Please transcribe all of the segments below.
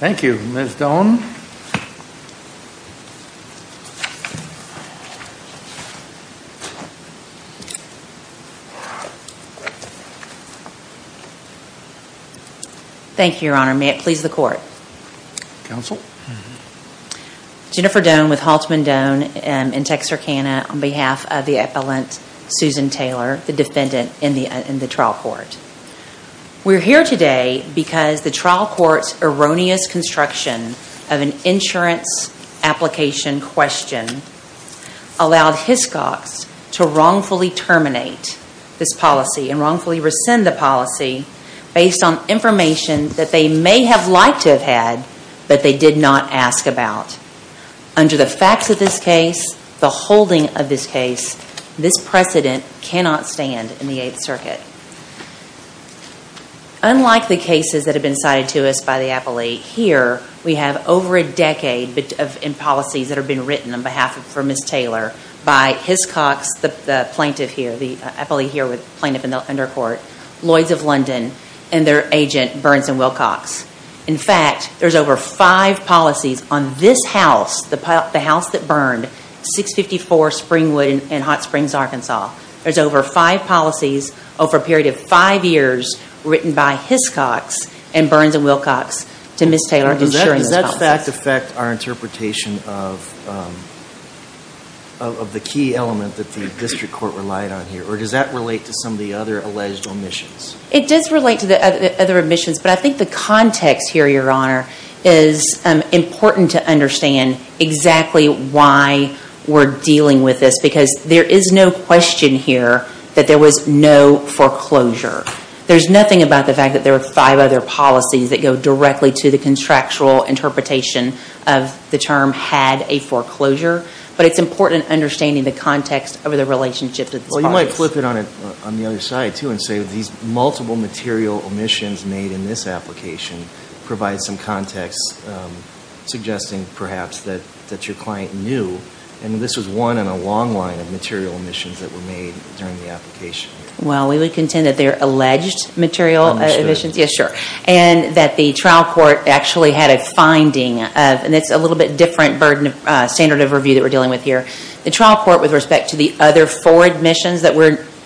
Thank you, Ms. Doan. Thank you, Your Honor. May it please the Court? Counsel. Jennifer Doan with Haltman Doan in Texarkana on behalf of the Appellant Suzan Taylor, the defendant in the trial court. We're here today because the trial court's erroneous construction of an insurance application question allowed Hiscox to wrongfully terminate this policy and wrongfully rescind the policy based on information that they may have liked to have had, but they did not ask about. Under the facts of this case, the holding of this case, this precedent cannot stand in the Eighth Circuit. Unlike the cases that have been cited to us by the appellee, here we have over a decade in policies that have been written on behalf of Ms. Taylor by Hiscox, the plaintiff here, the appellee here with the plaintiff in the undercourt, Lloyds of London, and their agent Burns and Wilcox. In fact, there's over five policies on this house, the house that burned 654 Springwood and Hot Springs, Arkansas. There's over five policies over a period of five years written by Hiscox and Burns and Wilcox to Ms. Taylor. Does that fact affect our interpretation of the key element that the district court relied on here, or does that relate to some of the other alleged omissions? It does relate to the other omissions, but I think the context here, Your Honor, is important to understand exactly why we're dealing with this, because there is no question here that there was no foreclosure. There's nothing about the fact that there are five other policies that go directly to the contractual interpretation of the term had a foreclosure, but it's important understanding the context of the relationship to this. Well, you might flip it on it on the other side, too, and say that these multiple material omissions made in this application provide some context, suggesting, perhaps, that your client knew, and this was one in a long line of material omissions that were made during the application. Well, we would contend that they're alleged material omissions, yes, sure, and that the trial court actually had a finding of, and it's a little bit different burden of standard of review that we're dealing with here, the trial court, with respect to the other four omissions that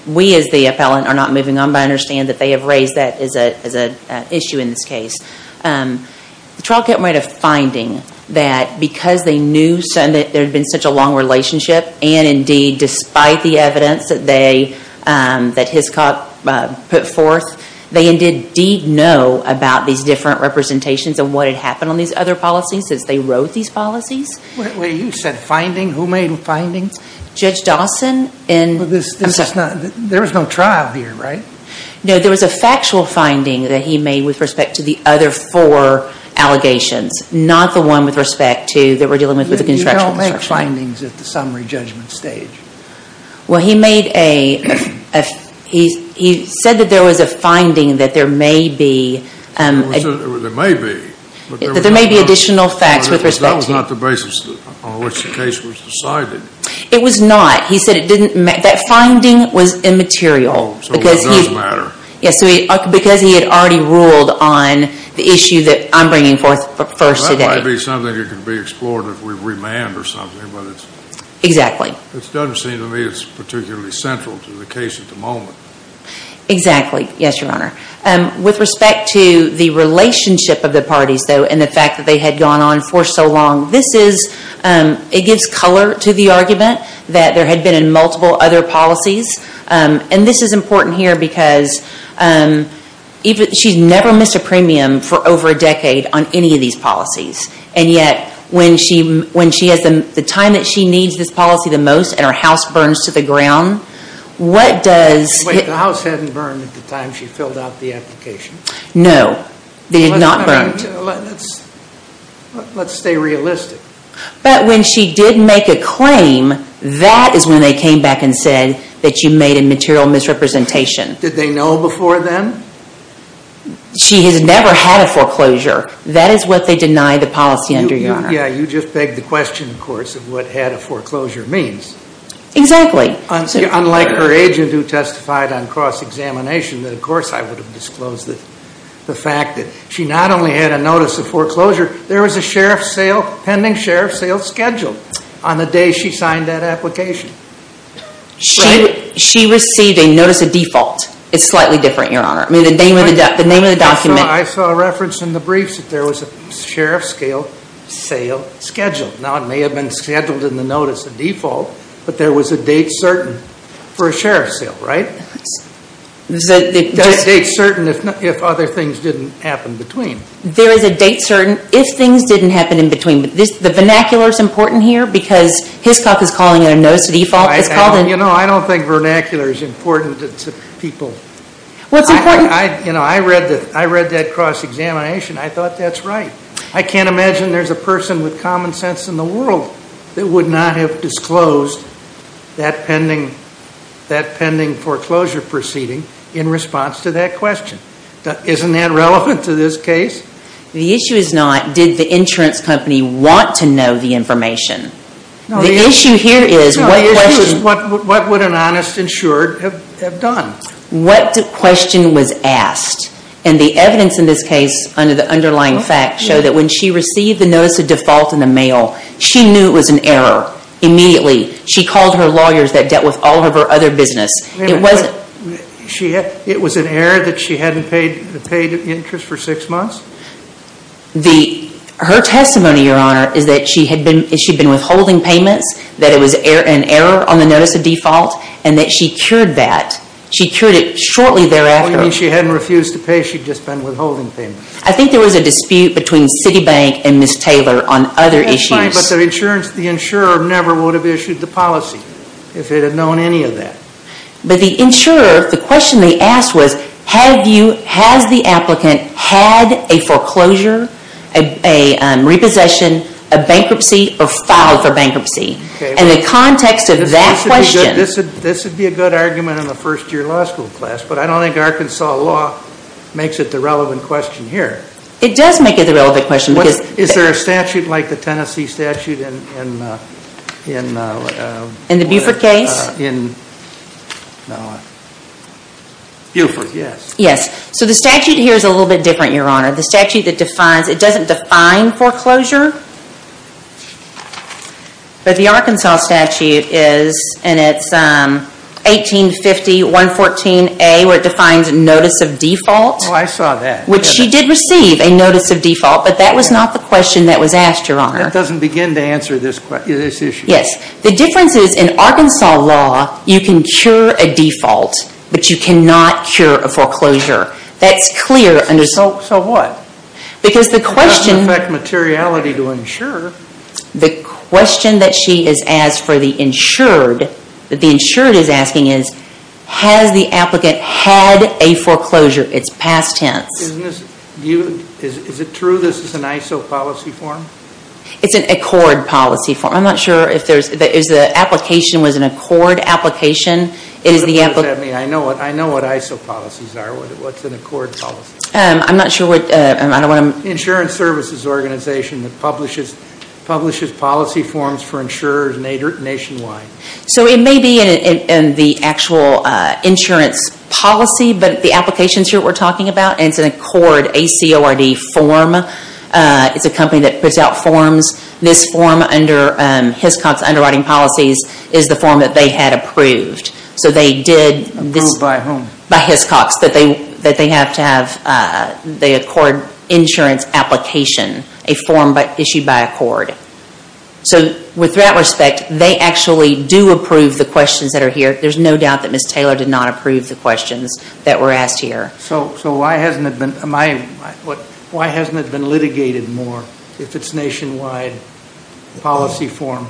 we, as the appellant, are not moving on by, understand that they have raised that as an issue in this case. The trial court made a finding that, because they knew that there had been such a long relationship, and indeed, despite the evidence that they, that Hiscott put forth, they indeed did know about these different representations of what had happened on these other policies, since they wrote these policies. Wait, wait, you said finding? Who made the findings? Judge Dawson, and... Well, this, this is not, there was no trial here, right? No, there was a factual finding that he made with respect to the other four allegations, not the one with respect to, that we're dealing with, with the construction. You don't make findings at the summary judgment stage. Well, he made a, he, he said that there was a finding that there may be, there may be, that there may be additional facts with respect to. That was not the basis on which the case was decided. It was not. He said it didn't matter. That finding was immaterial, because he... Oh, so it does matter. Yes, so he, because he had already ruled on the issue that I'm bringing forth first today. That might be something that could be explored if we remand or something, but it's... Exactly. It doesn't seem to me it's particularly central to the case at the moment. Exactly. Yes, Your Honor. With respect to the relationship of the parties, though, and the fact that they had gone on for so long, this is, it gives color to the argument that there had been in multiple other policies, and this is important here, because even, she's never missed a premium for over a decade on any of these policies, and yet, when she, when she has the, the time that she needs this policy the most, and her house burns to the ground, what does... Wait, the house hadn't burned at the time she filled out the application. No, they did not burn. Let's, let's stay realistic. But when she did make a claim, that is when they came back and said that you made a material misrepresentation. Did they know before then? She has never had a foreclosure. That is what they deny the policy under, Your Honor. Yeah, you just begged the question, of course, of what had a foreclosure means. Exactly. Unlike her agent who testified on cross-examination, that of course I would have disclosed that, the fact that she not only had a notice of foreclosure, there was a sheriff's sale, pending sheriff's sale, scheduled on the day she signed that application. She, she received a notice of default. It's slightly different, Your Honor. I mean, the name of the, the name of the document... I saw a reference in the briefs that there was a sheriff's scale sale scheduled. Now, it may have been scheduled in the notice of default, but there was a date certain for a sheriff's sale, right? There's a date certain if other things didn't happen between. There is a date certain if things didn't happen in between. The vernacular is important here because Hiscoff is calling it a notice of default. You know, I don't think vernacular is important to people. Well, it's important... I, you know, I read that, I read that cross-examination. I thought that's right. I can't imagine there's a person with common sense in the world that would not have disclosed that pending, that pending foreclosure proceeding in response to that question. Isn't that relevant to this case? The issue is not did the insurance company want to know the information. The issue here is what question... No, the issue is what would an honest insured have done? What question was asked? And the evidence in this case under the underlying facts show that when she received the notice of default in the mail, she knew it was an error immediately. She called her lawyers that dealt with all of her other business. It wasn't... It was an error that she hadn't paid interest for six months? Her testimony, Your Honor, is that she had been withholding payments, that it was an error on the notice of default, and that she cured that. She cured it shortly thereafter. Oh, you mean she hadn't refused to pay, she'd just been withholding payments. I think there was a dispute between Citibank and Ms. Taylor on other issues. That's fine, but the insurer never would have issued the policy if it had known any of that. But the insurer, the question they asked was, has the applicant had a foreclosure, a repossession, a bankruptcy, or filed for bankruptcy? And the context of that question... This would be a good argument in the first-year law school class, but I don't think Arkansas law makes it the relevant question here. It does make it the relevant question because... In a statute like the Tennessee statute in... In the Buford case? In... Buford, yes. Yes. So the statute here is a little bit different, Your Honor. The statute that defines, it doesn't define foreclosure, but the Arkansas statute is, and it's 1850.114a, where it defines notice of default. Oh, I saw that. Which she did receive a notice of default, but that was not the question that was asked, Your Honor. That doesn't begin to answer this issue. Yes. The difference is in Arkansas law, you can cure a default, but you cannot cure a foreclosure. That's clear under... So what? Because the question... It doesn't affect materiality to insure. The question that she has asked for the insured, that the insured is asking is, has the applicant had a foreclosure? It's past tense. Isn't this... Is it true this is an ISO policy form? It's an accord policy form. I'm not sure if there's... Is the application was an accord application? It is the... I know what ISO policies are. What's an accord policy? I'm not sure what... Insurance services organization that publishes policy forms for insurers nationwide. So it may be in the actual insurance policy, but the applications here we're talking about, it's an accord, A-C-O-R-D form. It's a company that puts out forms. This form under Hiscox Underwriting Policies is the form that they had approved. So they did this... Approved by whom? By Hiscox, that they have to have the accord insurance application, a form issued by accord. So with that respect, they actually do approve the questions that are here. There's no doubt that Ms. Taylor did not approve the questions that were asked here. So why hasn't it been... Why hasn't it been litigated more if it's nationwide policy form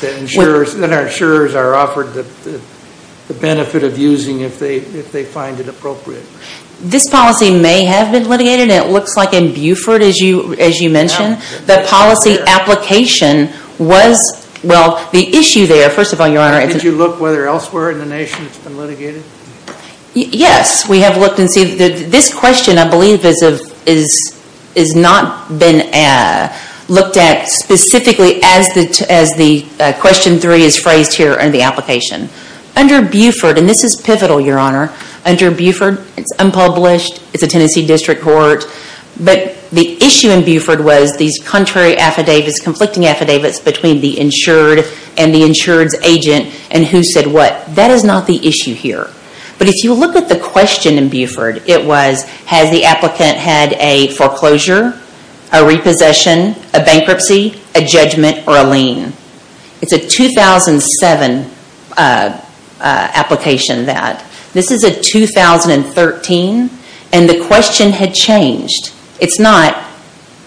that insurers are offered the benefit of using if they find it appropriate? This policy may have been litigated. It looks like in Buford, as you mentioned, the policy application was... Well, the issue there, first of all, Your Honor... Did you look whether elsewhere in the nation it's been litigated? Yes, we have looked and seen... This question, I believe, has not been looked at specifically as the question three is phrased here in the application. Under Buford, and this is pivotal, Your Honor... Under Buford, it's unpublished. It's a Tennessee District Court. But the issue in Buford was these contrary affidavits, conflicting affidavits between the insured and the insured's agent and who said what. That is not the issue here. But if you look at the question in Buford, it was... Has the applicant had a foreclosure, a repossession, a bankruptcy, a judgment, or a lien? It's a 2007 application that... This is a 2013, and the question had changed. It's not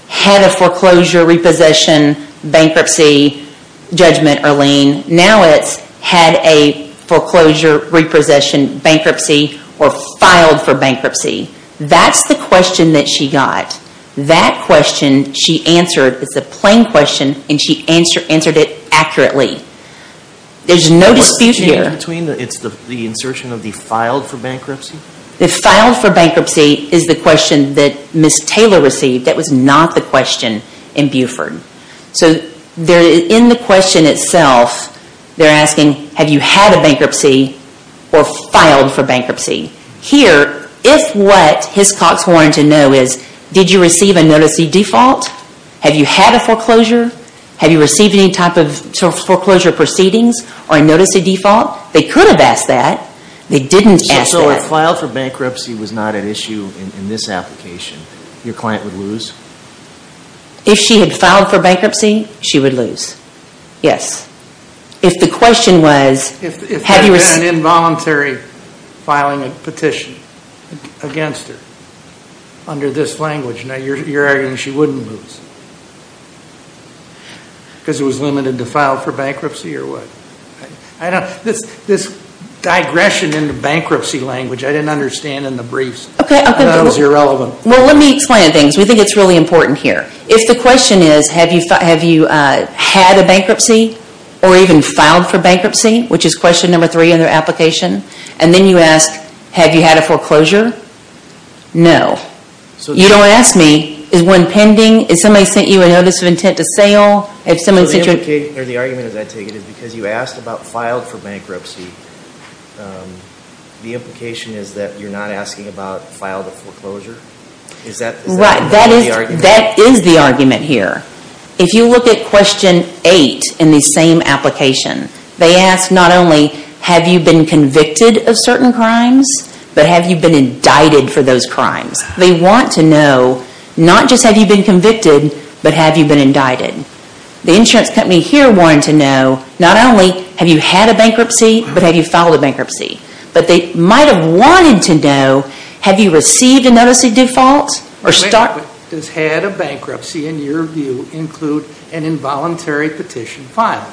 had a foreclosure, repossession, bankruptcy, judgment, or lien. Now it's had a foreclosure, repossession, bankruptcy, or filed for bankruptcy. That's the question that she got. That question she answered is a plain question, and she answered it accurately. There's no dispute here. It's the insertion of the filed for bankruptcy? The filed for bankruptcy is the question that Ms. Taylor received. That was not the question in Buford. In the question itself, they're asking, have you had a bankruptcy or filed for bankruptcy? Here, if what Hiscox wanted to know is, did you receive a notice of default? Have you had a foreclosure? Have you received any type of foreclosure proceedings or a notice of default? They could have asked that. They didn't ask that. So if filed for bankruptcy was not an issue in this application, your client would lose? If she had filed for bankruptcy, she would lose. Yes. If the question was, have you received— If there had been an involuntary filing a petition against her under this language, now you're arguing she wouldn't lose because it was limited to filed for bankruptcy or what? This digression into bankruptcy language, I didn't understand in the briefs. I thought it was irrelevant. Well, let me explain things. We think it's really important here. If the question is, have you had a bankruptcy or even filed for bankruptcy, which is question number three in their application, and then you ask, have you had a foreclosure? No. You don't ask me, is one pending? Has somebody sent you a notice of intent to sale? The argument, as I take it, is because you asked about filed for bankruptcy, the implication is that you're not asking about filed for foreclosure? That is the argument here. If you look at question eight in the same application, they ask not only, have you been convicted of certain crimes, but have you been indicted for those crimes? They want to know, not just have you been convicted, but have you been indicted? The insurance company here wanted to know, not only have you had a bankruptcy, but have you filed a bankruptcy? But they might have wanted to know, have you received a notice of default? Does had a bankruptcy, in your view, include an involuntary petition filed?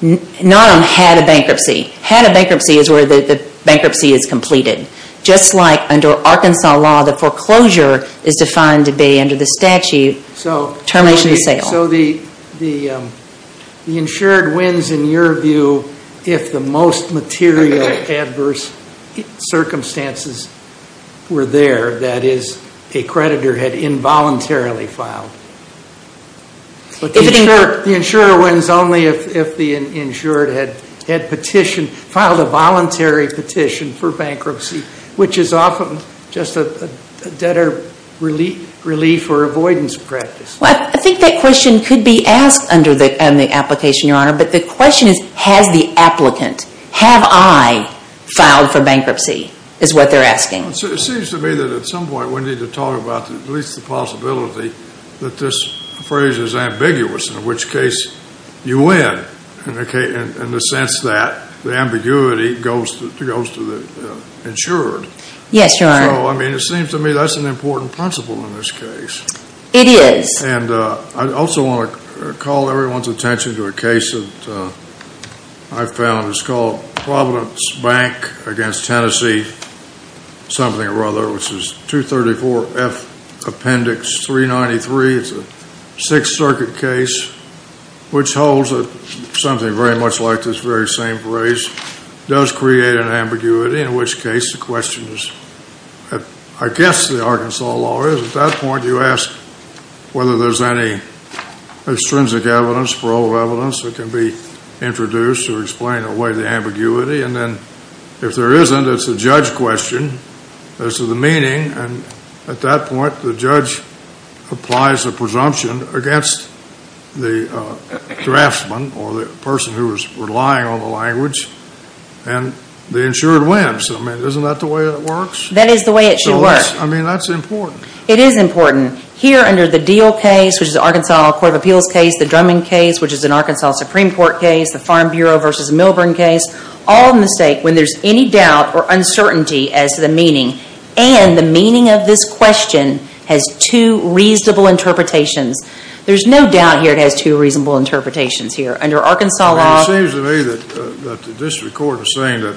Not on had a bankruptcy. Had a bankruptcy is where the bankruptcy is completed. Just like under Arkansas law, the foreclosure is defined to be, under the statute, termination of sale. So the insured wins, in your view, if the most material adverse circumstances were there. That is, a creditor had involuntarily filed. The insurer wins only if the insured had petitioned, filed a voluntary petition for bankruptcy, which is often just a debtor relief or avoidance practice. Well, I think that question could be asked under the application, Your Honor. But the question is, has the applicant, have I filed for bankruptcy, is what they're asking. It seems to me that at some point we need to talk about at least the possibility that this phrase is ambiguous, in which case you win, in the sense that the ambiguity goes to the insured. Yes, Your Honor. So, I mean, it seems to me that's an important principle in this case. It is. And I also want to call everyone's attention to a case that I found. It's called Providence Bank against Tennessee, something or other, which is 234F Appendix 393. It's a Sixth Circuit case, which holds that something very much like this very same phrase does create an ambiguity, in which case the question is, I guess the Arkansas law is, at that point you ask whether there's any extrinsic evidence, parole evidence that can be introduced to explain away the ambiguity. And then if there isn't, it's a judge question as to the meaning. And at that point, the judge applies a presumption against the draftsman or the person who is relying on the language, and the insured wins. I mean, isn't that the way it works? That is the way it should work. I mean, that's important. It is important. Here under the Deal case, which is the Arkansas Court of Appeals case, the Drummond case, which is an Arkansas Supreme Court case, the Farm Bureau v. Milburn case, all mistake when there's any doubt or uncertainty as to the meaning. And the meaning of this question has two reasonable interpretations. There's no doubt here it has two reasonable interpretations here. Under Arkansas law. It seems to me that the district court is saying that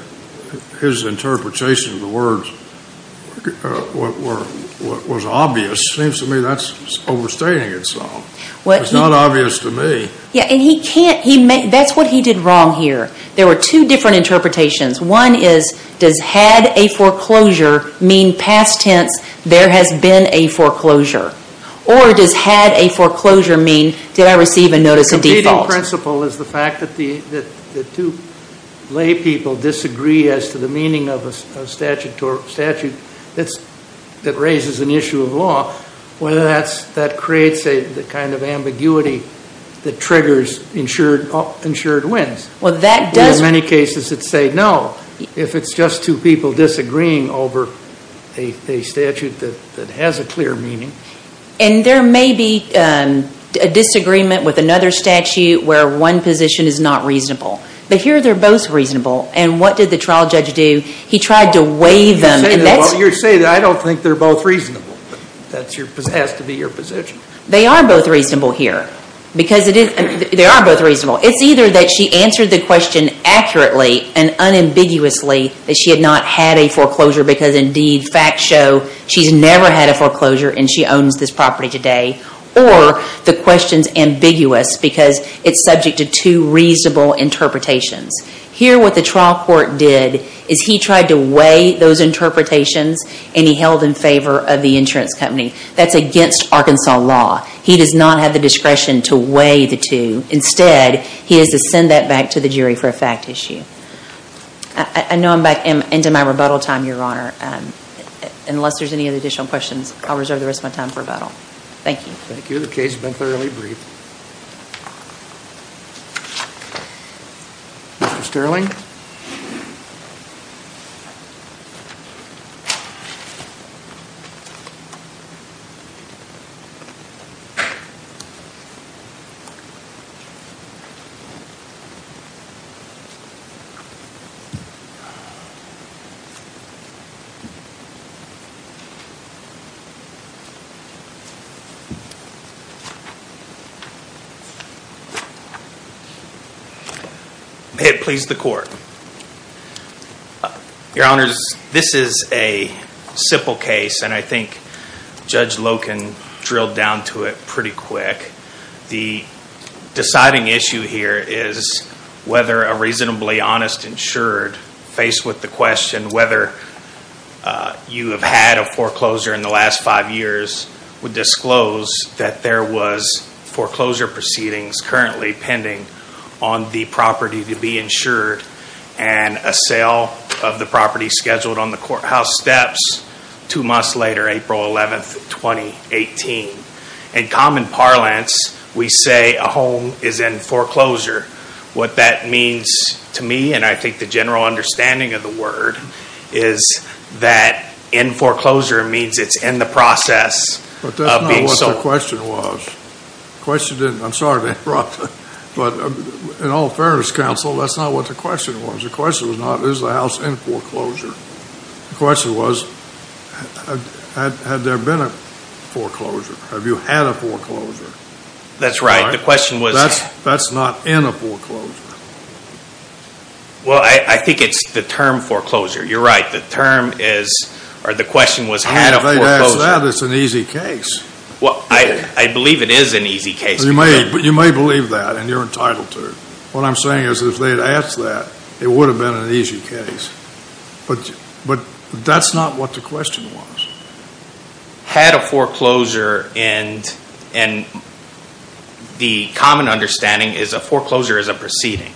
his interpretation of the words was obvious. It seems to me that's overstating itself. It's not obvious to me. Yeah, and he can't. That's what he did wrong here. There were two different interpretations. One is, does had a foreclosure mean past tense, there has been a foreclosure? Or does had a foreclosure mean, did I receive a notice of default? The competing principle is the fact that the two lay people disagree as to the meaning of a statute that raises an issue of law, whether that creates the kind of ambiguity that triggers ensured wins. Well, that does. There are many cases that say no. If it's just two people disagreeing over a statute that has a clear meaning. And there may be a disagreement with another statute where one position is not reasonable. But here they're both reasonable. And what did the trial judge do? He tried to weigh them. You're saying that I don't think they're both reasonable. That has to be your position. They are both reasonable here. Because it is, they are both reasonable. It's either that she answered the question accurately and unambiguously that she had not had a foreclosure because indeed facts show she's never had a foreclosure and she owns this property today. Or the question's ambiguous because it's subject to two reasonable interpretations. Here what the trial court did is he tried to weigh those interpretations and he held in favor of the insurance company. That's against Arkansas law. He does not have the discretion to weigh the two. Instead, he has to send that back to the jury for a fact issue. I know I'm back into my rebuttal time, Your Honor. Unless there's any additional questions, I'll reserve the rest of my time for rebuttal. Thank you. Thank you. The case has been thoroughly briefed. Mr. Sterling. May it please the court. Your Honors, this is a simple case and I think Judge Loken drilled down to it pretty quick. The deciding issue here is whether a reasonably honest insured, faced with the question whether you have had a foreclosure in the last five years, would disclose that there was foreclosure proceedings currently pending on the property to be insured and a sale of the property scheduled on the courthouse steps two months later, April 11, 2018. In common parlance, we say a home is in foreclosure. What that means to me, and I think the general understanding of the word, is that in foreclosure means it's in the process of being sold. But that's not what the question was. The question didn't. I'm sorry to interrupt, but in all fairness, counsel, that's not what the question was. The question was not, is the house in foreclosure? The question was, had there been a foreclosure? Have you had a foreclosure? That's right. The question was. That's not in a foreclosure. Well, I think it's the term foreclosure. You're right. The term is, or the question was, had a foreclosure. If they had asked that, it's an easy case. Well, I believe it is an easy case. You may believe that, and you're entitled to it. What I'm saying is if they had asked that, it would have been an easy case. But that's not what the question was. Had a foreclosure, and the common understanding is a foreclosure is a proceeding.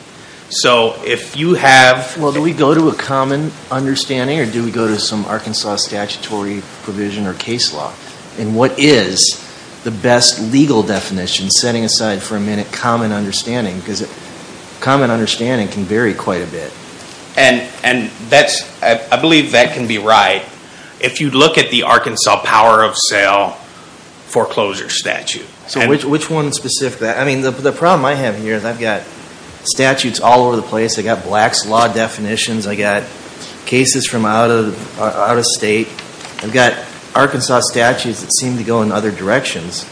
So if you have. Well, do we go to a common understanding, or do we go to some Arkansas statutory provision or case law? And what is the best legal definition, setting aside for a minute, common understanding? Because common understanding can vary quite a bit. And I believe that can be right. If you look at the Arkansas power of sale foreclosure statute. So which one specifically? I mean, the problem I have here is I've got statutes all over the place. I've got blacks law definitions. I've got cases from out of state. I've got Arkansas statutes that seem to go in other directions.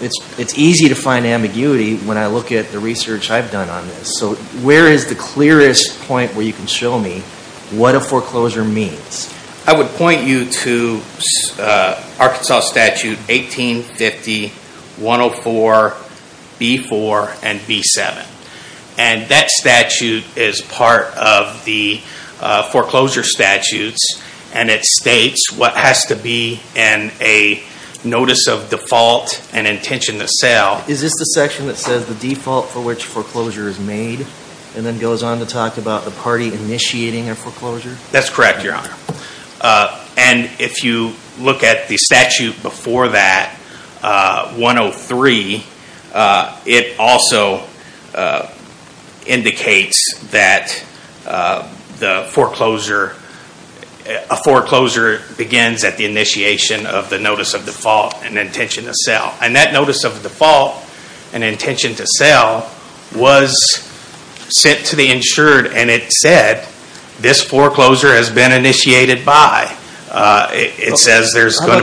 It's easy to find ambiguity when I look at the research I've done on this. So where is the clearest point where you can show me what a foreclosure means? I would point you to Arkansas statute 1850, 104, B4, and B7. And that statute is part of the foreclosure statutes. And it states what has to be in a notice of default and intention to sell. Is this the section that says the default for which foreclosure is made, and then goes on to talk about the party initiating a foreclosure? That's correct, Your Honor. And if you look at the statute before that, 103, it also indicates that a foreclosure begins at the initiation of the notice of default and intention to sell. And that notice of default and intention to sell was sent to the insured and it said this foreclosure has been initiated by. How about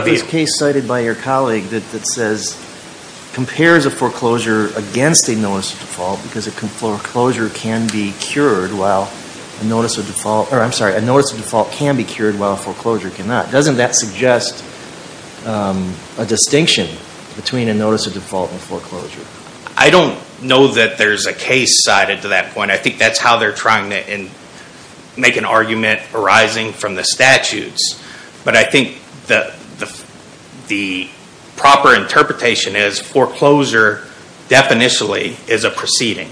this case cited by your colleague that compares a foreclosure against a notice of default because a notice of default can be cured while a foreclosure cannot. Doesn't that suggest a distinction between a notice of default and foreclosure? I don't know that there's a case cited to that point. I think that's how they're trying to make an argument arising from the statutes. But I think the proper interpretation is foreclosure, definitionally, is a proceeding.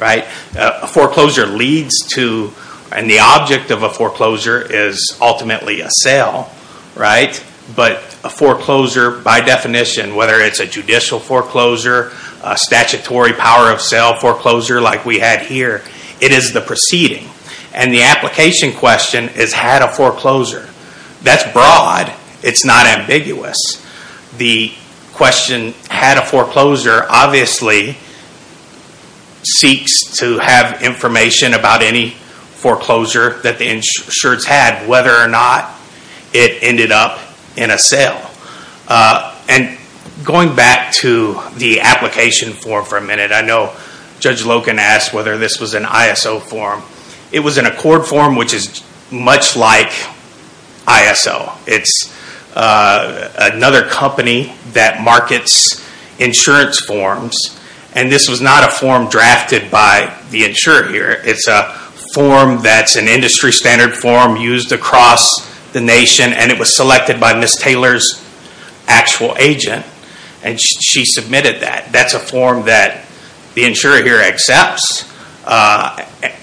A foreclosure leads to, and the object of a foreclosure is ultimately a sale. But a foreclosure, by definition, whether it's a judicial foreclosure, a statutory power of sale foreclosure like we had here, it is the proceeding. And the application question is had a foreclosure. That's broad. It's not ambiguous. The question, had a foreclosure, obviously seeks to have information about any foreclosure that the insureds had, whether or not it ended up in a sale. And going back to the application form for a minute, I know Judge Logan asked whether this was an ISO form. It was an accord form, which is much like ISO. It's another company that markets insurance forms. And this was not a form drafted by the insurer here. It's a form that's an industry standard form used across the nation. And it was selected by Ms. Taylor's actual agent. And she submitted that. That's a form that the insurer here accepts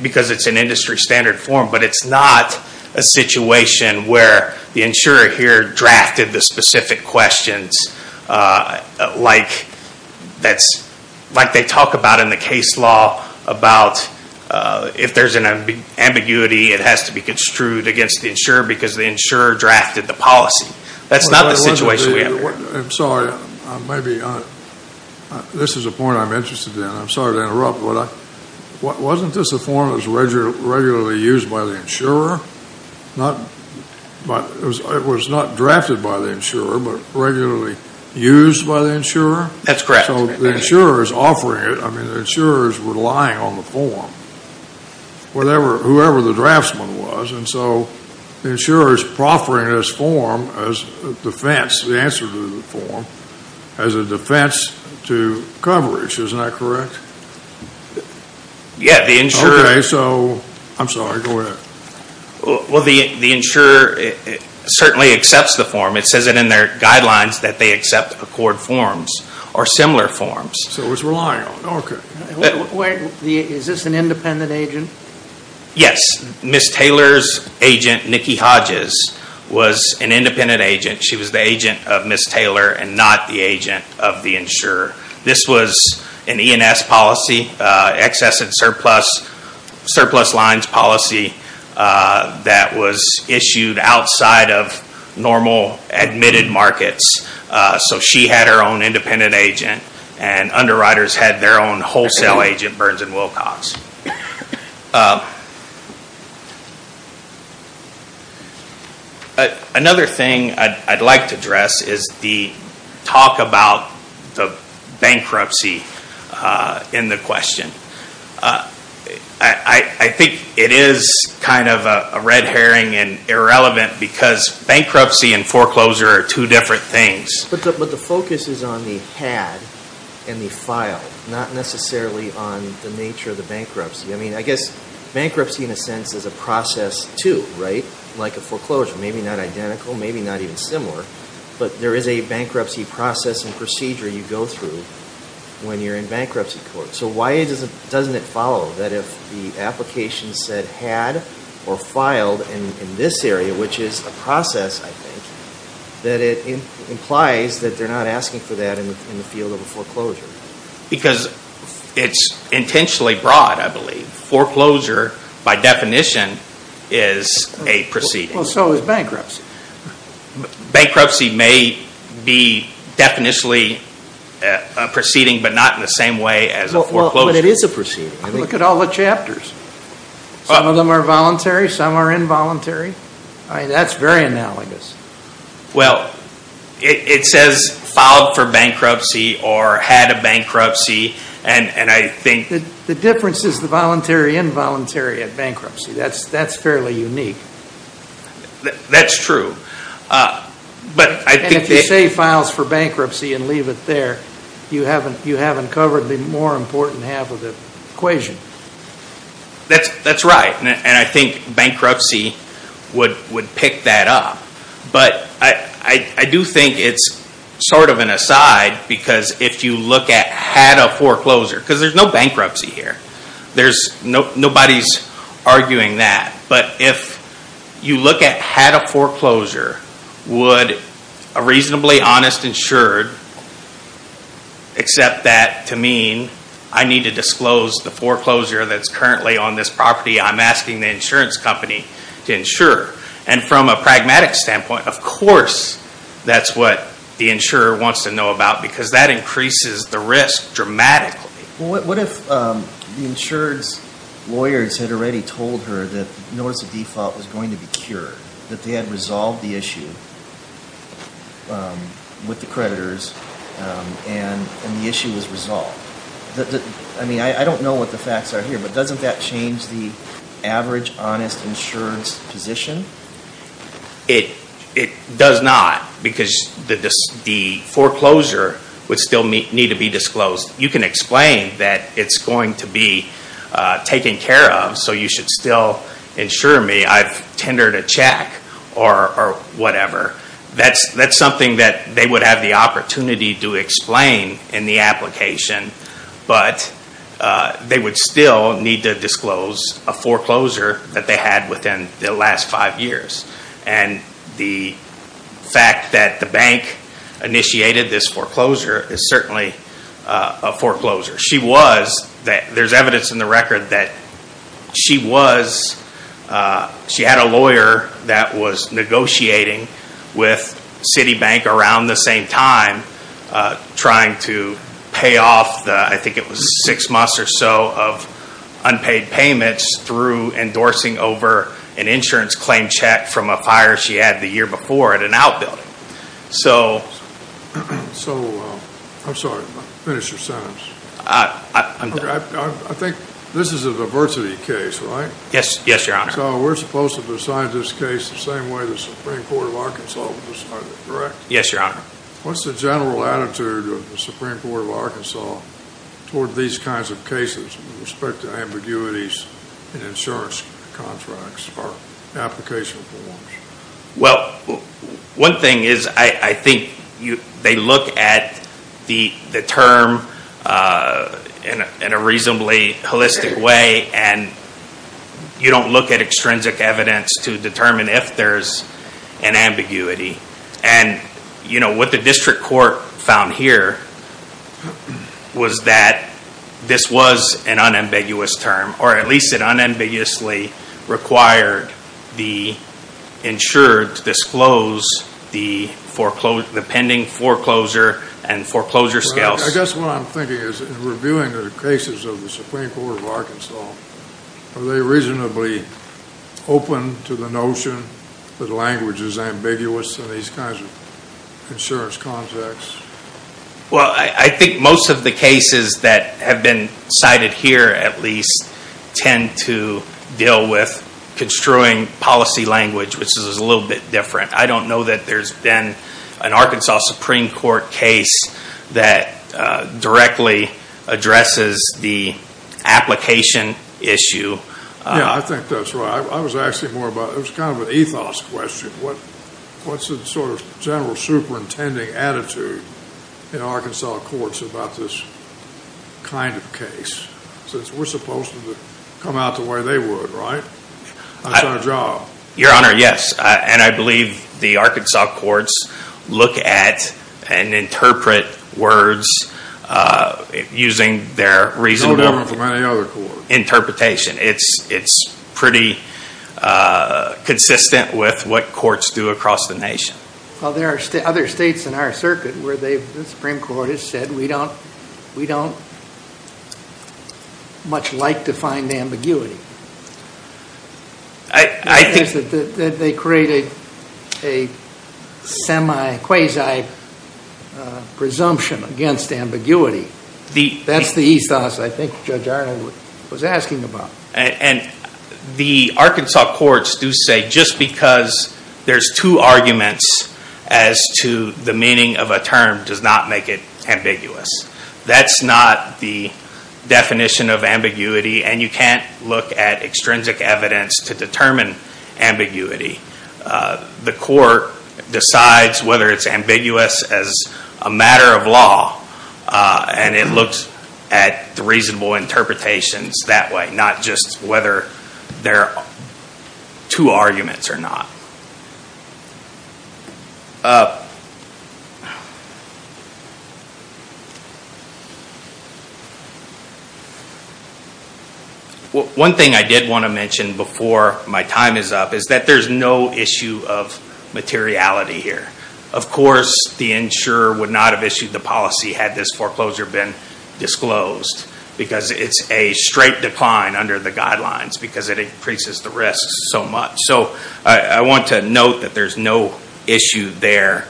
because it's an industry standard form. But it's not a situation where the insurer here drafted the specific questions like they talk about in the case law about if there's an ambiguity, it has to be construed against the insurer because the insurer drafted the policy. That's not the situation we have here. I'm sorry. This is a point I'm interested in. I'm sorry to interrupt. Wasn't this a form that was regularly used by the insurer? It was not drafted by the insurer, but regularly used by the insurer? That's correct. So the insurer is offering it. I mean, the insurer is relying on the form, whoever the draftsman was. And so the insurer is proffering this form as a defense, the answer to the form, as a defense to coverage. Isn't that correct? Yeah. Okay. I'm sorry. Go ahead. Well, the insurer certainly accepts the form. It says it in their guidelines that they accept accord forms or similar forms. So it's relying on it. Okay. Is this an independent agent? Yes. Ms. Taylor's agent, Nikki Hodges, was an independent agent. She was the agent of Ms. Taylor and not the agent of the insurer. This was an E&S policy, excess and surplus lines policy, that was issued outside of normal admitted markets. So she had her own independent agent, and underwriters had their own wholesale agent, Burns & Wilcox. Another thing I'd like to address is the talk about the bankruptcy in the question. I think it is kind of a red herring and irrelevant because bankruptcy and foreclosure are two different things. But the focus is on the had and the file, not necessarily on the nature of the bankruptcy. I mean, I guess bankruptcy, in a sense, is a process too, right? Like a foreclosure, maybe not identical, maybe not even similar. But there is a bankruptcy process and procedure you go through when you're in bankruptcy court. So why doesn't it follow that if the application said had or filed in this area, which is a process, I think, that it implies that they're not asking for that in the field of a foreclosure? Because it's intentionally broad, I believe. Foreclosure, by definition, is a proceeding. Well, so is bankruptcy. Bankruptcy may be definitely a proceeding, but not in the same way as a foreclosure. But it is a proceeding. Look at all the chapters. Some of them are voluntary, some are involuntary. That's very analogous. Well, it says filed for bankruptcy or had a bankruptcy, and I think... The difference is the voluntary, involuntary at bankruptcy. That's fairly unique. That's true. And if you say files for bankruptcy and leave it there, you haven't covered the more important half of the equation. That's right. And I think bankruptcy would pick that up. But I do think it's sort of an aside because if you look at had a foreclosure, because there's no bankruptcy here. Nobody's arguing that. But if you look at had a foreclosure, would a reasonably honest insured accept that to mean I need to disclose the foreclosure that's currently on this property. I'm asking the insurance company to insure. And from a pragmatic standpoint, of course that's what the insurer wants to know about because that increases the risk dramatically. What if the insured's lawyers had already told her that notice of default was going to be cured, that they had resolved the issue with the creditors and the issue was resolved? I mean, I don't know what the facts are here, but doesn't that change the average honest insured's position? It does not because the foreclosure would still need to be disclosed. You can explain that it's going to be taken care of, so you should still insure me. I've tendered a check or whatever. That's something that they would have the opportunity to explain in the application, but they would still need to disclose a foreclosure that they had within the last five years. And the fact that the bank initiated this foreclosure is certainly a foreclosure. There's evidence in the record that she had a lawyer that was negotiating with Citibank around the same time trying to pay off the, I think it was six months or so, of unpaid payments through endorsing over an insurance claim check from a fire she had the year before at an outbuilding. So, I'm sorry, finish your sentence. I'm done. I think this is a diversity case, right? Yes, Your Honor. So we're supposed to decide this case the same way the Supreme Court of Arkansas would decide it, correct? Yes, Your Honor. What's the general attitude of the Supreme Court of Arkansas toward these kinds of cases with respect to ambiguities in insurance contracts or application forms? Well, one thing is I think they look at the term in a reasonably holistic way and you don't look at extrinsic evidence to determine if there's an ambiguity. And what the district court found here was that this was an unambiguous term, or at least it unambiguously required the insurer to disclose the pending foreclosure and foreclosure scales. I guess what I'm thinking is in reviewing the cases of the Supreme Court of Arkansas, are they reasonably open to the notion that language is ambiguous in these kinds of insurance contracts? Well, I think most of the cases that have been cited here at least tend to deal with construing policy language, which is a little bit different. I don't know that there's been an Arkansas Supreme Court case that directly addresses the application issue. Yeah, I think that's right. I was asking more about, it was kind of an ethos question. What's the sort of general superintending attitude in Arkansas courts about this kind of case? Since we're supposed to come out the way they would, right? That's our job. Your Honor, yes. And I believe the Arkansas courts look at and interpret words using their reasonable interpretation. It's pretty consistent with what courts do across the nation. Well, there are other states in our circuit where the Supreme Court has said, we don't much like defined ambiguity. I think that they created a semi-quasi-presumption against ambiguity. That's the ethos I think Judge Arnold was asking about. And the Arkansas courts do say just because there's two arguments as to the meaning of a term does not make it ambiguous. That's not the definition of ambiguity, and you can't look at extrinsic evidence to determine ambiguity. The court decides whether it's ambiguous as a matter of law, and it looks at the reasonable interpretations that way. Not just whether there are two arguments or not. One thing I did want to mention before my time is up is that there's no issue of materiality here. Of course, the insurer would not have issued the policy had this foreclosure been disclosed. Because it's a straight decline under the guidelines, because it increases the risks so much. I want to note that there's no issue there.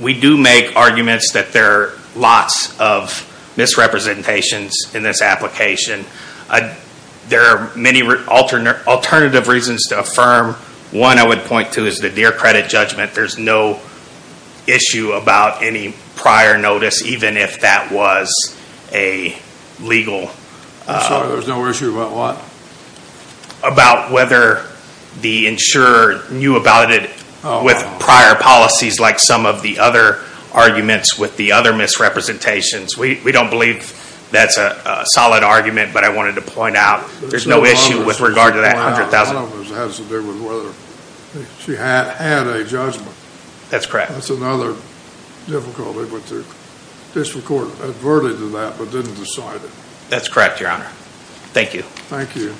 We do make arguments that there are lots of misrepresentations in this application. There are many alternative reasons to affirm. One I would point to is the Deer Credit Judgment. There's no issue about any prior notice, even if that was a legal... I'm sorry, there's no issue about what? About whether the insurer knew about it with prior policies like some of the other arguments with the other misrepresentations. We don't believe that's a solid argument, but I wanted to point out there's no issue with regard to that $100,000. It has to do with whether she had a judgment. That's correct. That's another difficulty, but the district court adverted to that but didn't decide it. That's correct, Your Honor. Thank you. Thank you.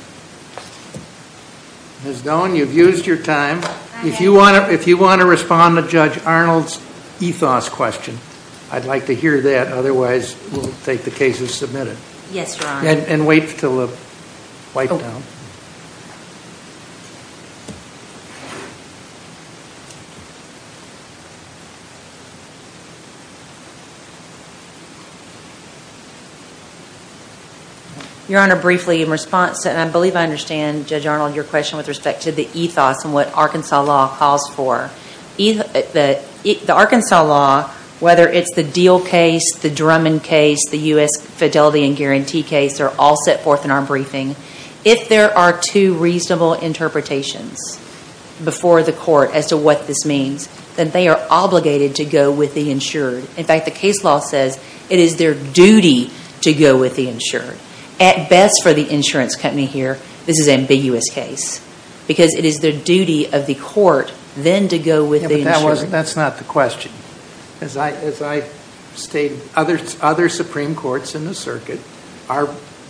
Ms. Doan, you've used your time. If you want to respond to Judge Arnold's ethos question, I'd like to hear that. Otherwise, we'll take the case as submitted. Yes, Your Honor. And wait until the wipe-down. Your Honor, briefly in response, and I believe I understand, Judge Arnold, your question with respect to the ethos and what Arkansas law calls for. The Arkansas law, whether it's the Deal case, the Drummond case, the U.S. Fidelity and Guarantee case, they're all set forth in our briefing. If there are two reasonable interpretations before the court as to what this means, then they are obligated to go with the insured. In fact, the case law says it is their duty to go with the insured. At best for the insurance company here, this is an ambiguous case, because it is their duty of the court then to go with the insured. That's not the question. As I stated, other Supreme Courts in the circuit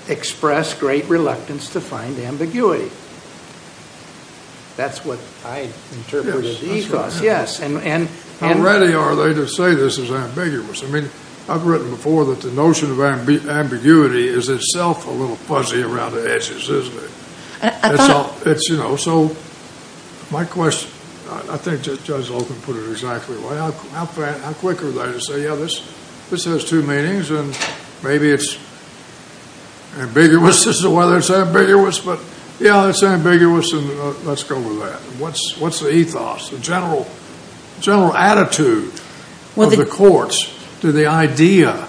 express great reluctance to find ambiguity. That's what I interpreted the ethos. Yes. How ready are they to say this is ambiguous? I mean, I've written before that the notion of ambiguity is itself a little fuzzy around the edges, isn't it? It's, you know, so my question, I think Judge Zoltan put it exactly right. How quick are they to say, yeah, this has two meanings, and maybe it's ambiguous as to whether it's ambiguous, but, yeah, it's ambiguous, and let's go with that. What's the ethos, the general attitude of the courts to the idea?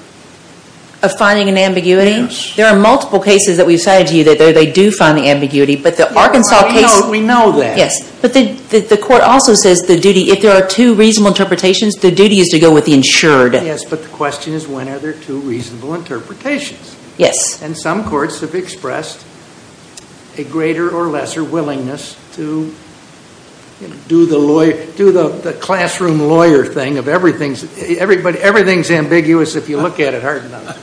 Of finding an ambiguity? Yes. There are multiple cases that we've cited to you that they do find the ambiguity, but the Arkansas case. We know that. Yes, but the court also says the duty, if there are two reasonable interpretations, the duty is to go with the insured. Yes, but the question is when are there two reasonable interpretations? Yes. And some courts have expressed a greater or lesser willingness to do the classroom lawyer thing of everything's, but everything's ambiguous if you look at it hard enough.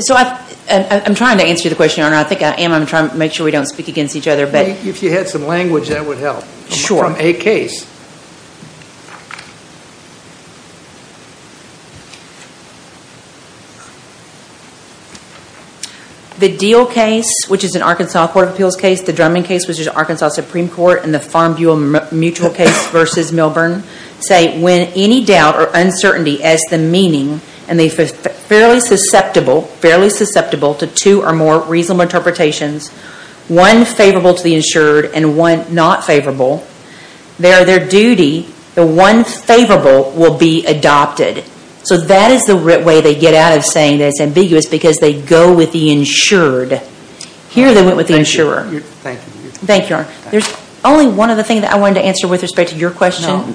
So I'm trying to answer the question, Your Honor. I think I am. I'm trying to make sure we don't speak against each other, but. If you had some language, that would help. Sure. From a case. The Deal case, which is an Arkansas Court of Appeals case, the Drummond case, which is an Arkansas Supreme Court, and the Farm Buol Mutual case versus Milburn say when any doubt or uncertainty as the meaning, and they're fairly susceptible, fairly susceptible to two or more reasonable interpretations, one favorable to the insured and one not favorable, their duty, the one favorable will be adopted. So that is the way they get out of saying that it's ambiguous because they go with the insured. Here they went with the insurer. Thank you. Thank you, Your Honor. There's only one other thing that I wanted to answer with respect to your question, Judge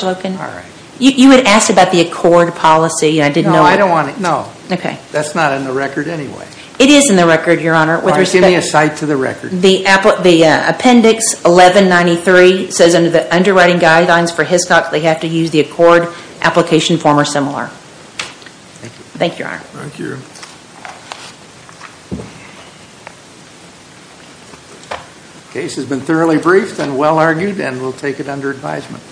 Loken. All right. You had asked about the accord policy, and I didn't know. No, I don't want to. No. Okay. That's not in the record anyway. It is in the record, Your Honor. All right. Give me a cite to the record. The appendix 1193 says under the underwriting guidelines for Hiscox, they have to use the accord application form or similar. Thank you. Thank you, Your Honor. Thank you. The case has been thoroughly briefed and well argued, and we'll take it under advisement.